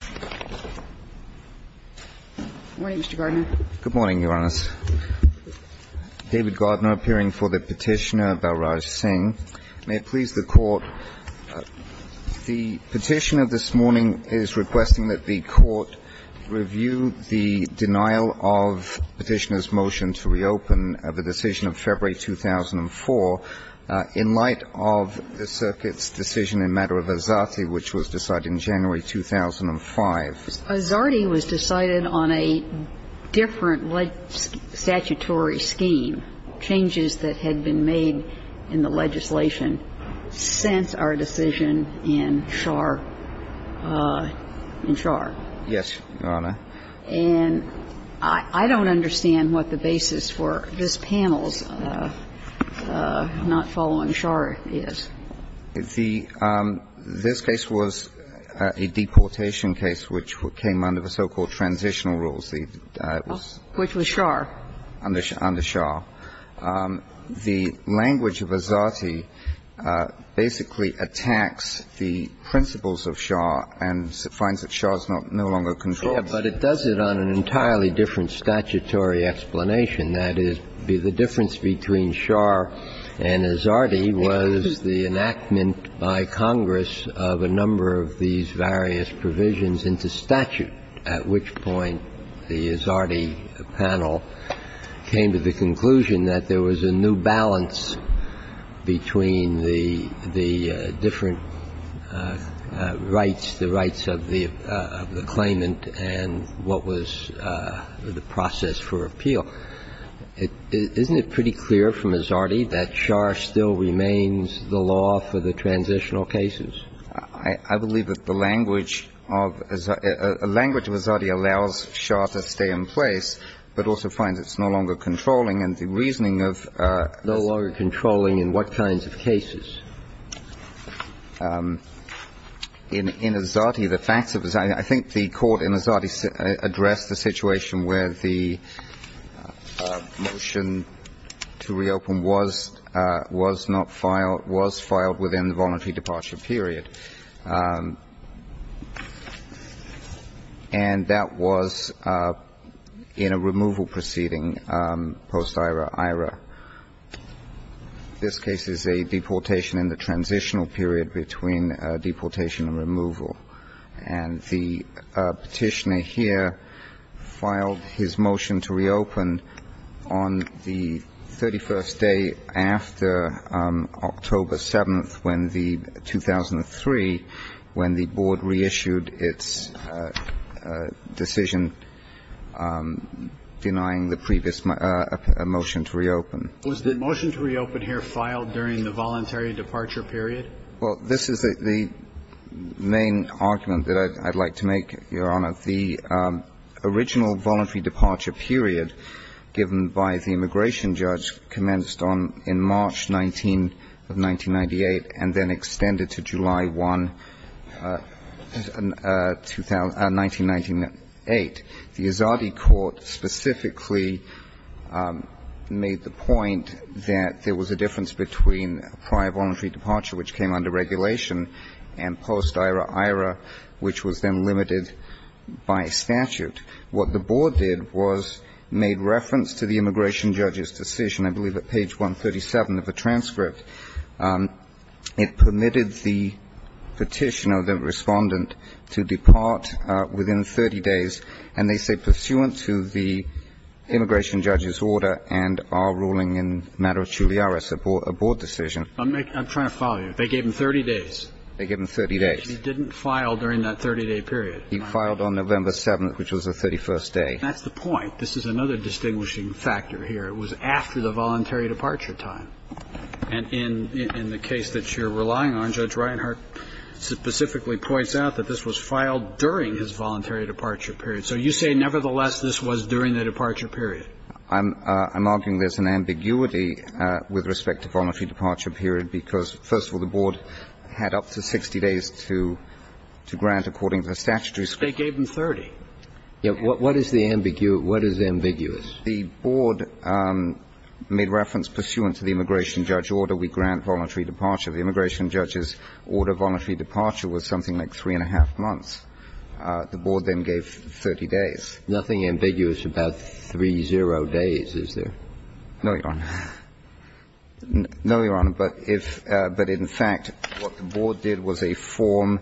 Good morning, Mr. Gardner. Good morning, Your Honors. David Gardner, appearing for the Petitioner, Balraj Singh. May it please the Court, the Petitioner this morning is requesting that the Court review the denial of Petitioner's motion to reopen the decision of February 2004 in light of the Circuit's decision in matter of Azate, which was decided in January 2005. Azate was decided on a different statutory scheme, changes that had been made in the legislation since our decision in Schar. Yes, Your Honor. And I don't understand what the basis for this panel's not following Schar is. The – this case was a deportation case which came under the so-called transitional rules. Which was Schar. Under Schar. The language of Azate basically attacks the principles of Schar and finds that Schar is no longer controlled. Yes, but it does it on an entirely different statutory explanation. That is, the difference between Schar and Azate was the enactment by Congress of a number of these various provisions into statute, at which point the Azate panel came to the conclusion that there was a new balance between the different rights, the rights of the claimant and what was the process for appeal. Isn't it pretty clear from Azate that Schar still remains the law for the transitional cases? I believe that the language of – a language of Azate allows Schar to stay in place, but also finds it's no longer controlling, and the reasoning of – No longer controlling in what kinds of cases? In Azate, the facts of – I think the court in Azate addressed the situation where the motion to reopen was not filed – was filed within the voluntary departure period. And that was in a removal proceeding post-Ira-Ira. This case is a deportation in the transitional period between deportation and removal. And the petitioner here filed his motion to reopen on the 31st day after October 7th, when the – 2003, when the board reissued its decision denying the previous – a motion to reopen. Was the motion to reopen here filed during the voluntary departure period? Well, this is the main argument that I'd like to make, Your Honor. The original voluntary departure period given by the immigration judge commenced on – in March 19 of 1998 and then extended to July 1, 1998. The Azate court specifically made the point that there was a difference between prior voluntary departure, which came under regulation, and post-Ira-Ira, which was then limited by statute. What the board did was made reference to the immigration judge's decision, I believe at page 137 of the transcript. It permitted the petitioner, the respondent, to depart within 30 days. And they say, pursuant to the immigration judge's order and our ruling in matter of chuliaris, a board decision. I'm trying to follow you. They gave him 30 days. They gave him 30 days. He didn't file during that 30-day period. He filed on November 7th, which was the 31st day. That's the point. This is another distinguishing factor here. It was after the voluntary departure time. And in the case that you're relying on, Judge Reinhart specifically points out that this was filed during his voluntary departure period. So you say, nevertheless, this was during the departure period. I'm arguing there's an ambiguity with respect to voluntary departure period because, first of all, the board had up to 60 days to grant according to the statutory statute. They gave him 30. What is the ambiguity? What is ambiguous? The board made reference, pursuant to the immigration judge order, we grant voluntary departure. The immigration judge's order of voluntary departure was something like 3-1⁄2 months. The board then gave 30 days. Nothing ambiguous about 3-0 days, is there? No, Your Honor. No, Your Honor. But if the board did was a form.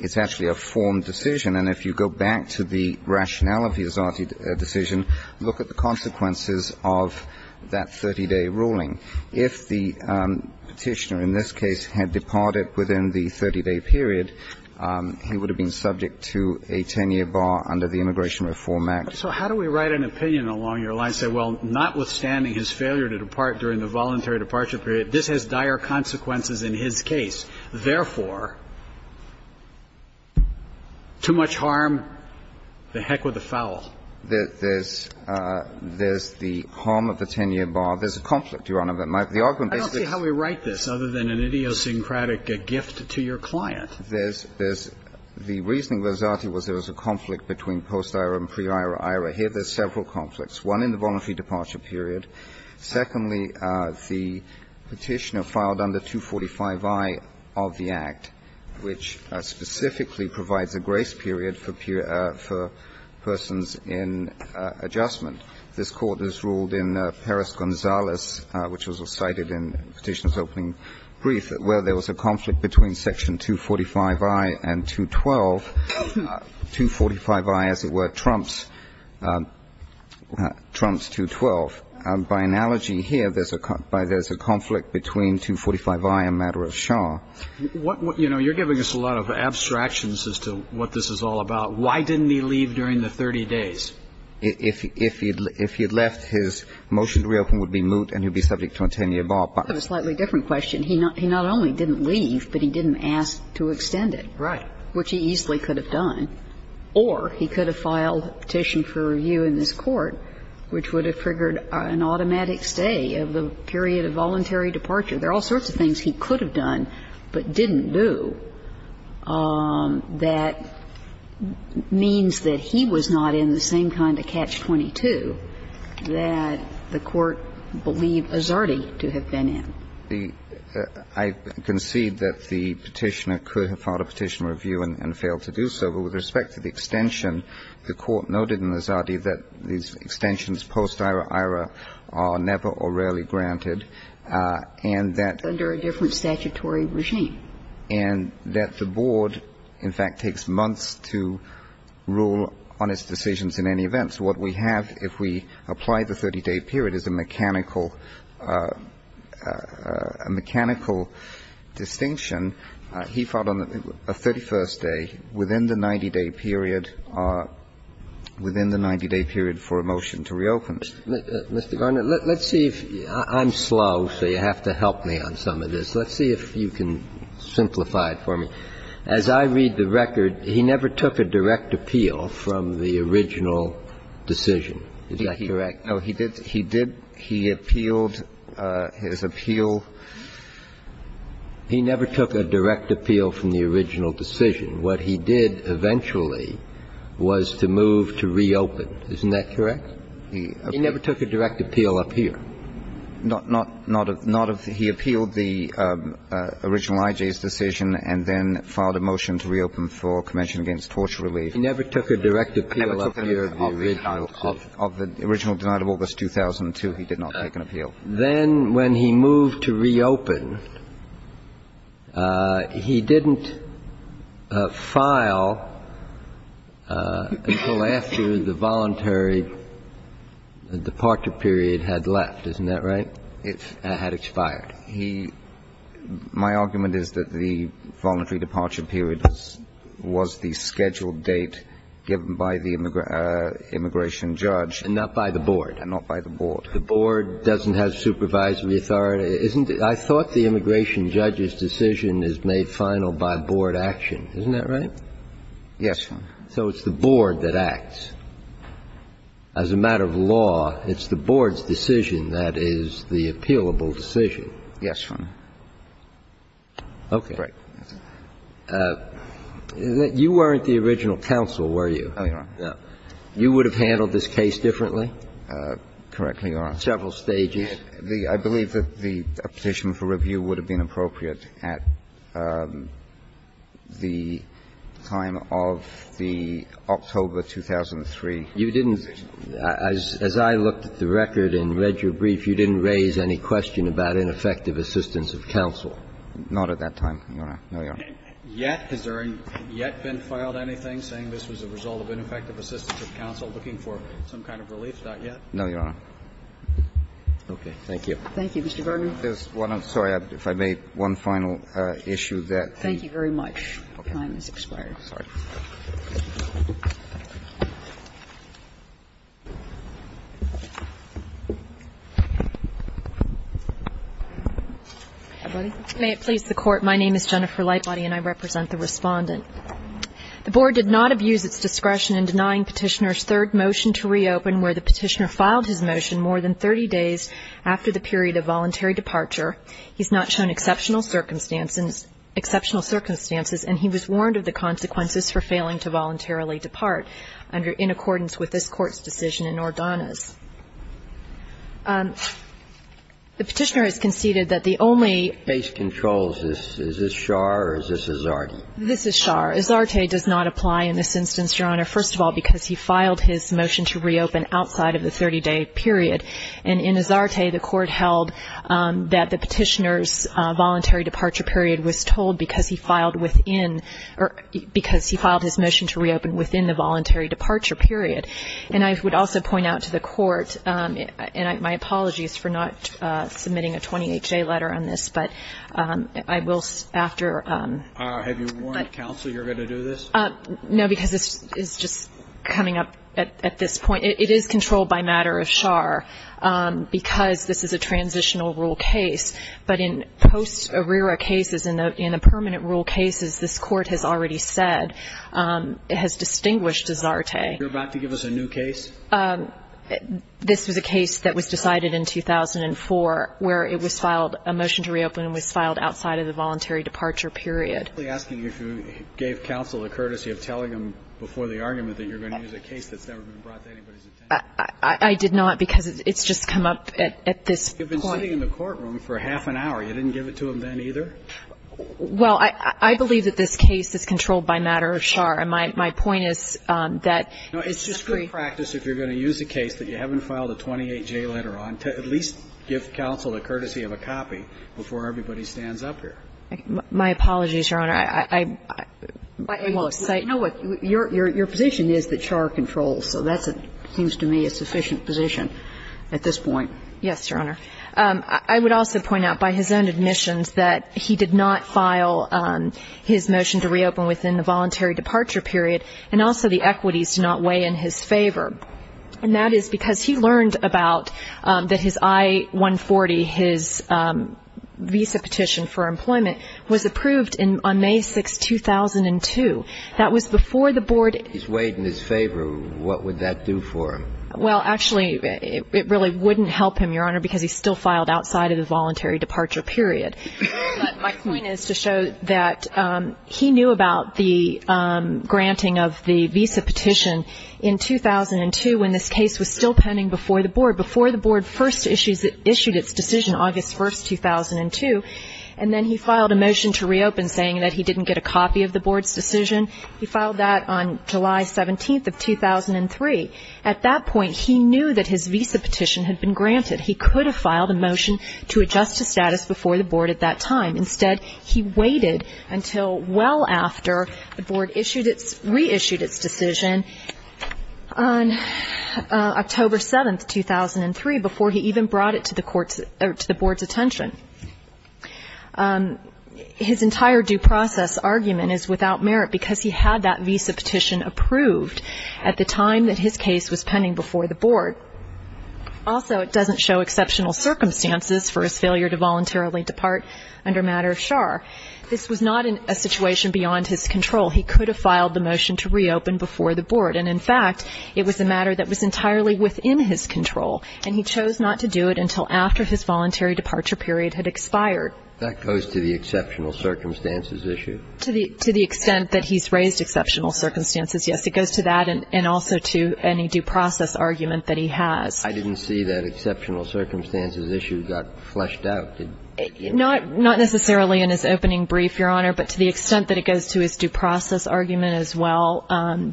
It's actually a form decision. And if you go back to the rationale of his decision, look at the consequences of that 30-day ruling. If the Petitioner in this case had departed within the 30-day period, he would have been subject to a 10-year bar under the Immigration Reform Act. So how do we write an opinion along your line, say, well, notwithstanding his failure to depart during the voluntary departure period, this has dire consequences in his case. Therefore, too much harm, the heck with the foul. There's the harm of the 10-year bar. There's a conflict, Your Honor. I don't see how we write this, other than an idiosyncratic gift to your client. There's the reasoning of Izzati was there was a conflict between post-Ira and pre-Ira. Here there's several conflicts, one in the voluntary departure period. Secondly, the Petitioner filed under 245i of the Act, which specifically provides a grace period for persons in adjustment. This Court has ruled in Perez-Gonzalez, which was cited in Petitioner's opening brief, that where there was a conflict between section 245i and 212, 245i, as it were, trumps 212. By analogy here, there's a conflict between 245i and Madras Shah. You're giving us a lot of abstractions as to what this is all about. Why didn't he leave during the 30 days? If he had left, his motion to reopen would be moot and he would be subject to a 10-year bar. I have a slightly different question. He not only didn't leave, but he didn't ask to extend it. Right. Which he easily could have done. Or he could have filed a petition for review in this Court, which would have triggered an automatic stay of the period of voluntary departure. There are all sorts of things he could have done but didn't do that means that he was not in the same kind of catch-22 that the Court believed Azardi to have been in. I concede that the Petitioner could have filed a petition for review and failed to do so. But with respect to the extension, the Court noted in Azardi that these extensions post-Ira-Ira are never or rarely granted and that under a different statutory regime and that the Board, in fact, takes months to rule on its decisions in any event. So what we have if we apply the 30-day period is a mechanical distinction. He filed on the 31st day within the 90-day period, within the 90-day period for a motion to reopen. Mr. Garner, let's see if you – I'm slow, so you have to help me on some of this. Let's see if you can simplify it for me. As I read the record, he never took a direct appeal from the original decision. Is that correct? No, he did. He appealed his appeal. He never took a direct appeal from the original decision. What he did eventually was to move to reopen. Isn't that correct? He never took a direct appeal up here. Not of – he appealed the original IJ's decision and then filed a motion to reopen for Convention Against Torture Relief. He never took a direct appeal up here of the original decision. It was 2002. He did not take an appeal. Then when he moved to reopen, he didn't file until after the voluntary departure period had left. Isn't that right? It had expired. He – my argument is that the voluntary departure period was the scheduled date given by the immigration judge. And not by the board. And not by the board. The board doesn't have supervisory authority. Isn't it? I thought the immigration judge's decision is made final by board action. Isn't that right? Yes, Your Honor. So it's the board that acts. As a matter of law, it's the board's decision that is the appealable decision. Yes, Your Honor. Okay. Right. You weren't the original counsel, were you? I am not. You would have handled this case differently? Correctly, Your Honor. Several stages? The – I believe that the petition for review would have been appropriate at the time of the October 2003 petition. You didn't – as I looked at the record and read your brief, you didn't raise any question about ineffective assistance of counsel. Not at that time, Your Honor. No, Your Honor. Yet? Has there yet been filed anything saying this was a result of ineffective assistance of counsel looking for some kind of relief? Not yet. No, Your Honor. Okay. Thank you. Thank you, Mr. Vernon. There's one – I'm sorry. If I may, one final issue that the – Thank you very much. Your time has expired. Sorry. May it please the Court. My name is Jennifer Lightbody, and I represent the Respondent. The board did not abuse its discretion in denying Petitioner's third motion to reopen where the Petitioner filed his motion more than 30 days after the period of voluntary departure. He's not shown exceptional circumstances – exceptional circumstances, and he was warned of the consequences for failing to voluntarily depart under – in accordance with this Court's decision in Ordonez. The Petitioner has conceded that the only – Base control. Is this – is this Scharr or is this Izzardi? This is Scharr. reopen outside of the 30-day period. And in Izzardi, the Court held that the Petitioner's voluntary departure period was told because he filed within – or because he filed his motion to reopen within the voluntary departure period. And I would also point out to the Court – and my apologies for not submitting a 28-day letter on this, but I will after – Have you warned counsel you're going to do this? No, because this is just coming up at this point. It is controlled by matter of Scharr because this is a transitional rule case. But in post-ARRERA cases, in the permanent rule cases, this Court has already said – has distinguished Izzardi. You're about to give us a new case? This was a case that was decided in 2004 where it was filed – a motion to reopen was filed outside of the voluntary departure period. I'm simply asking if you gave counsel a courtesy of telling them before the argument that you're going to use a case that's never been brought to anybody's attention. I did not, because it's just come up at this point. You've been sitting in the courtroom for half an hour. You didn't give it to them then either? Well, I believe that this case is controlled by matter of Scharr. And my point is that it's just very – No, it's just good practice if you're going to use a case that you haven't filed a 28-day letter on to at least give counsel a courtesy of a copy before everybody stands up here. My apologies, Your Honor. I'm – Well, you know what? Your position is that Scharr controls. So that seems to me a sufficient position at this point. Yes, Your Honor. I would also point out by his own admissions that he did not file his motion to reopen within the voluntary departure period, and also the equities do not weigh in his favor. And that is because he learned about – that his I-140, his visa petition for employment, was approved on May 6, 2002. That was before the board – If it weighed in his favor, what would that do for him? Well, actually, it really wouldn't help him, Your Honor, because he still filed outside of the voluntary departure period. My point is to show that he knew about the granting of the visa petition in 2002, when this case was still pending before the board. Before the board first issued its decision, August 1, 2002, and then he filed a motion to reopen, saying that he didn't get a copy of the board's decision. He filed that on July 17 of 2003. At that point, he knew that his visa petition had been granted. He could have filed a motion to adjust to status before the board at that time. Instead, he waited until well after the board reissued its decision on October 7, 2003, before he even brought it to the board's attention. His entire due process argument is without merit, because he had that visa petition approved at the time that his case was pending before the board. Also, it doesn't show exceptional circumstances for his failure to voluntarily depart under matter of char. This was not a situation beyond his control. He could have filed the motion to reopen before the board. And, in fact, it was a matter that was entirely within his control, and he chose not to do it until after his voluntary departure period had expired. That goes to the exceptional circumstances issue? To the extent that he's raised exceptional circumstances, yes. It goes to that and also to any due process argument that he has. I didn't see that exceptional circumstances issue got fleshed out. Not necessarily in his opening brief, Your Honor, but to the extent that it goes to his due process argument as well,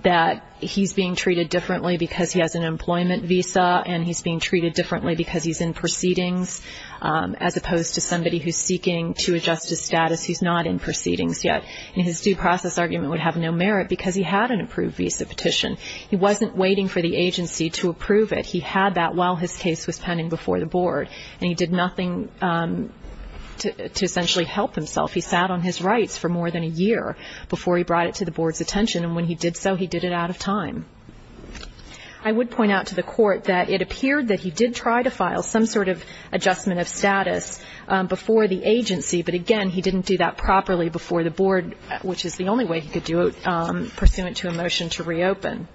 that he's being treated differently because he has an employment visa, and he's being treated differently because he's in proceedings, as opposed to somebody who's seeking to adjust to status who's not in proceedings yet. And his due process argument would have no merit because he had an approved visa petition. He wasn't waiting for the agency to approve it. He had that while his case was pending before the board, and he did nothing to essentially help himself. He sat on his rights for more than a year before he brought it to the board's attention, and when he did so, he did it out of time. I would point out to the court that it appeared that he did try to file some sort of adjustment of status before the agency, but again, he didn't do that properly before the board, which is the only way he could do it pursuant to a motion to reopen.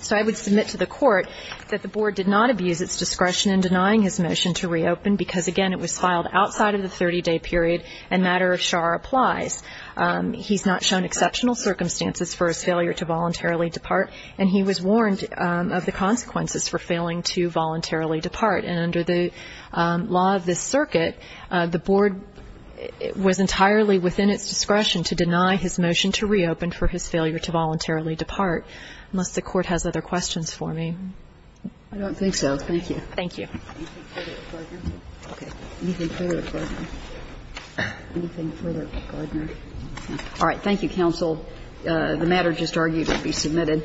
So I would submit to the court that the board did not abuse its discretion in denying his motion to reopen because, again, it was filed outside of the 30-day period, and matter of char applies. He's not shown exceptional circumstances for his failure to voluntarily depart, and he was warned of the consequences for failing to voluntarily depart. And under the law of this circuit, the board was entirely within its discretion to deny his motion to reopen for his failure to voluntarily depart. Unless the court has other questions for me. I don't think so. Thank you. Thank you. All right. Thank you, counsel. The matter just argued to be submitted.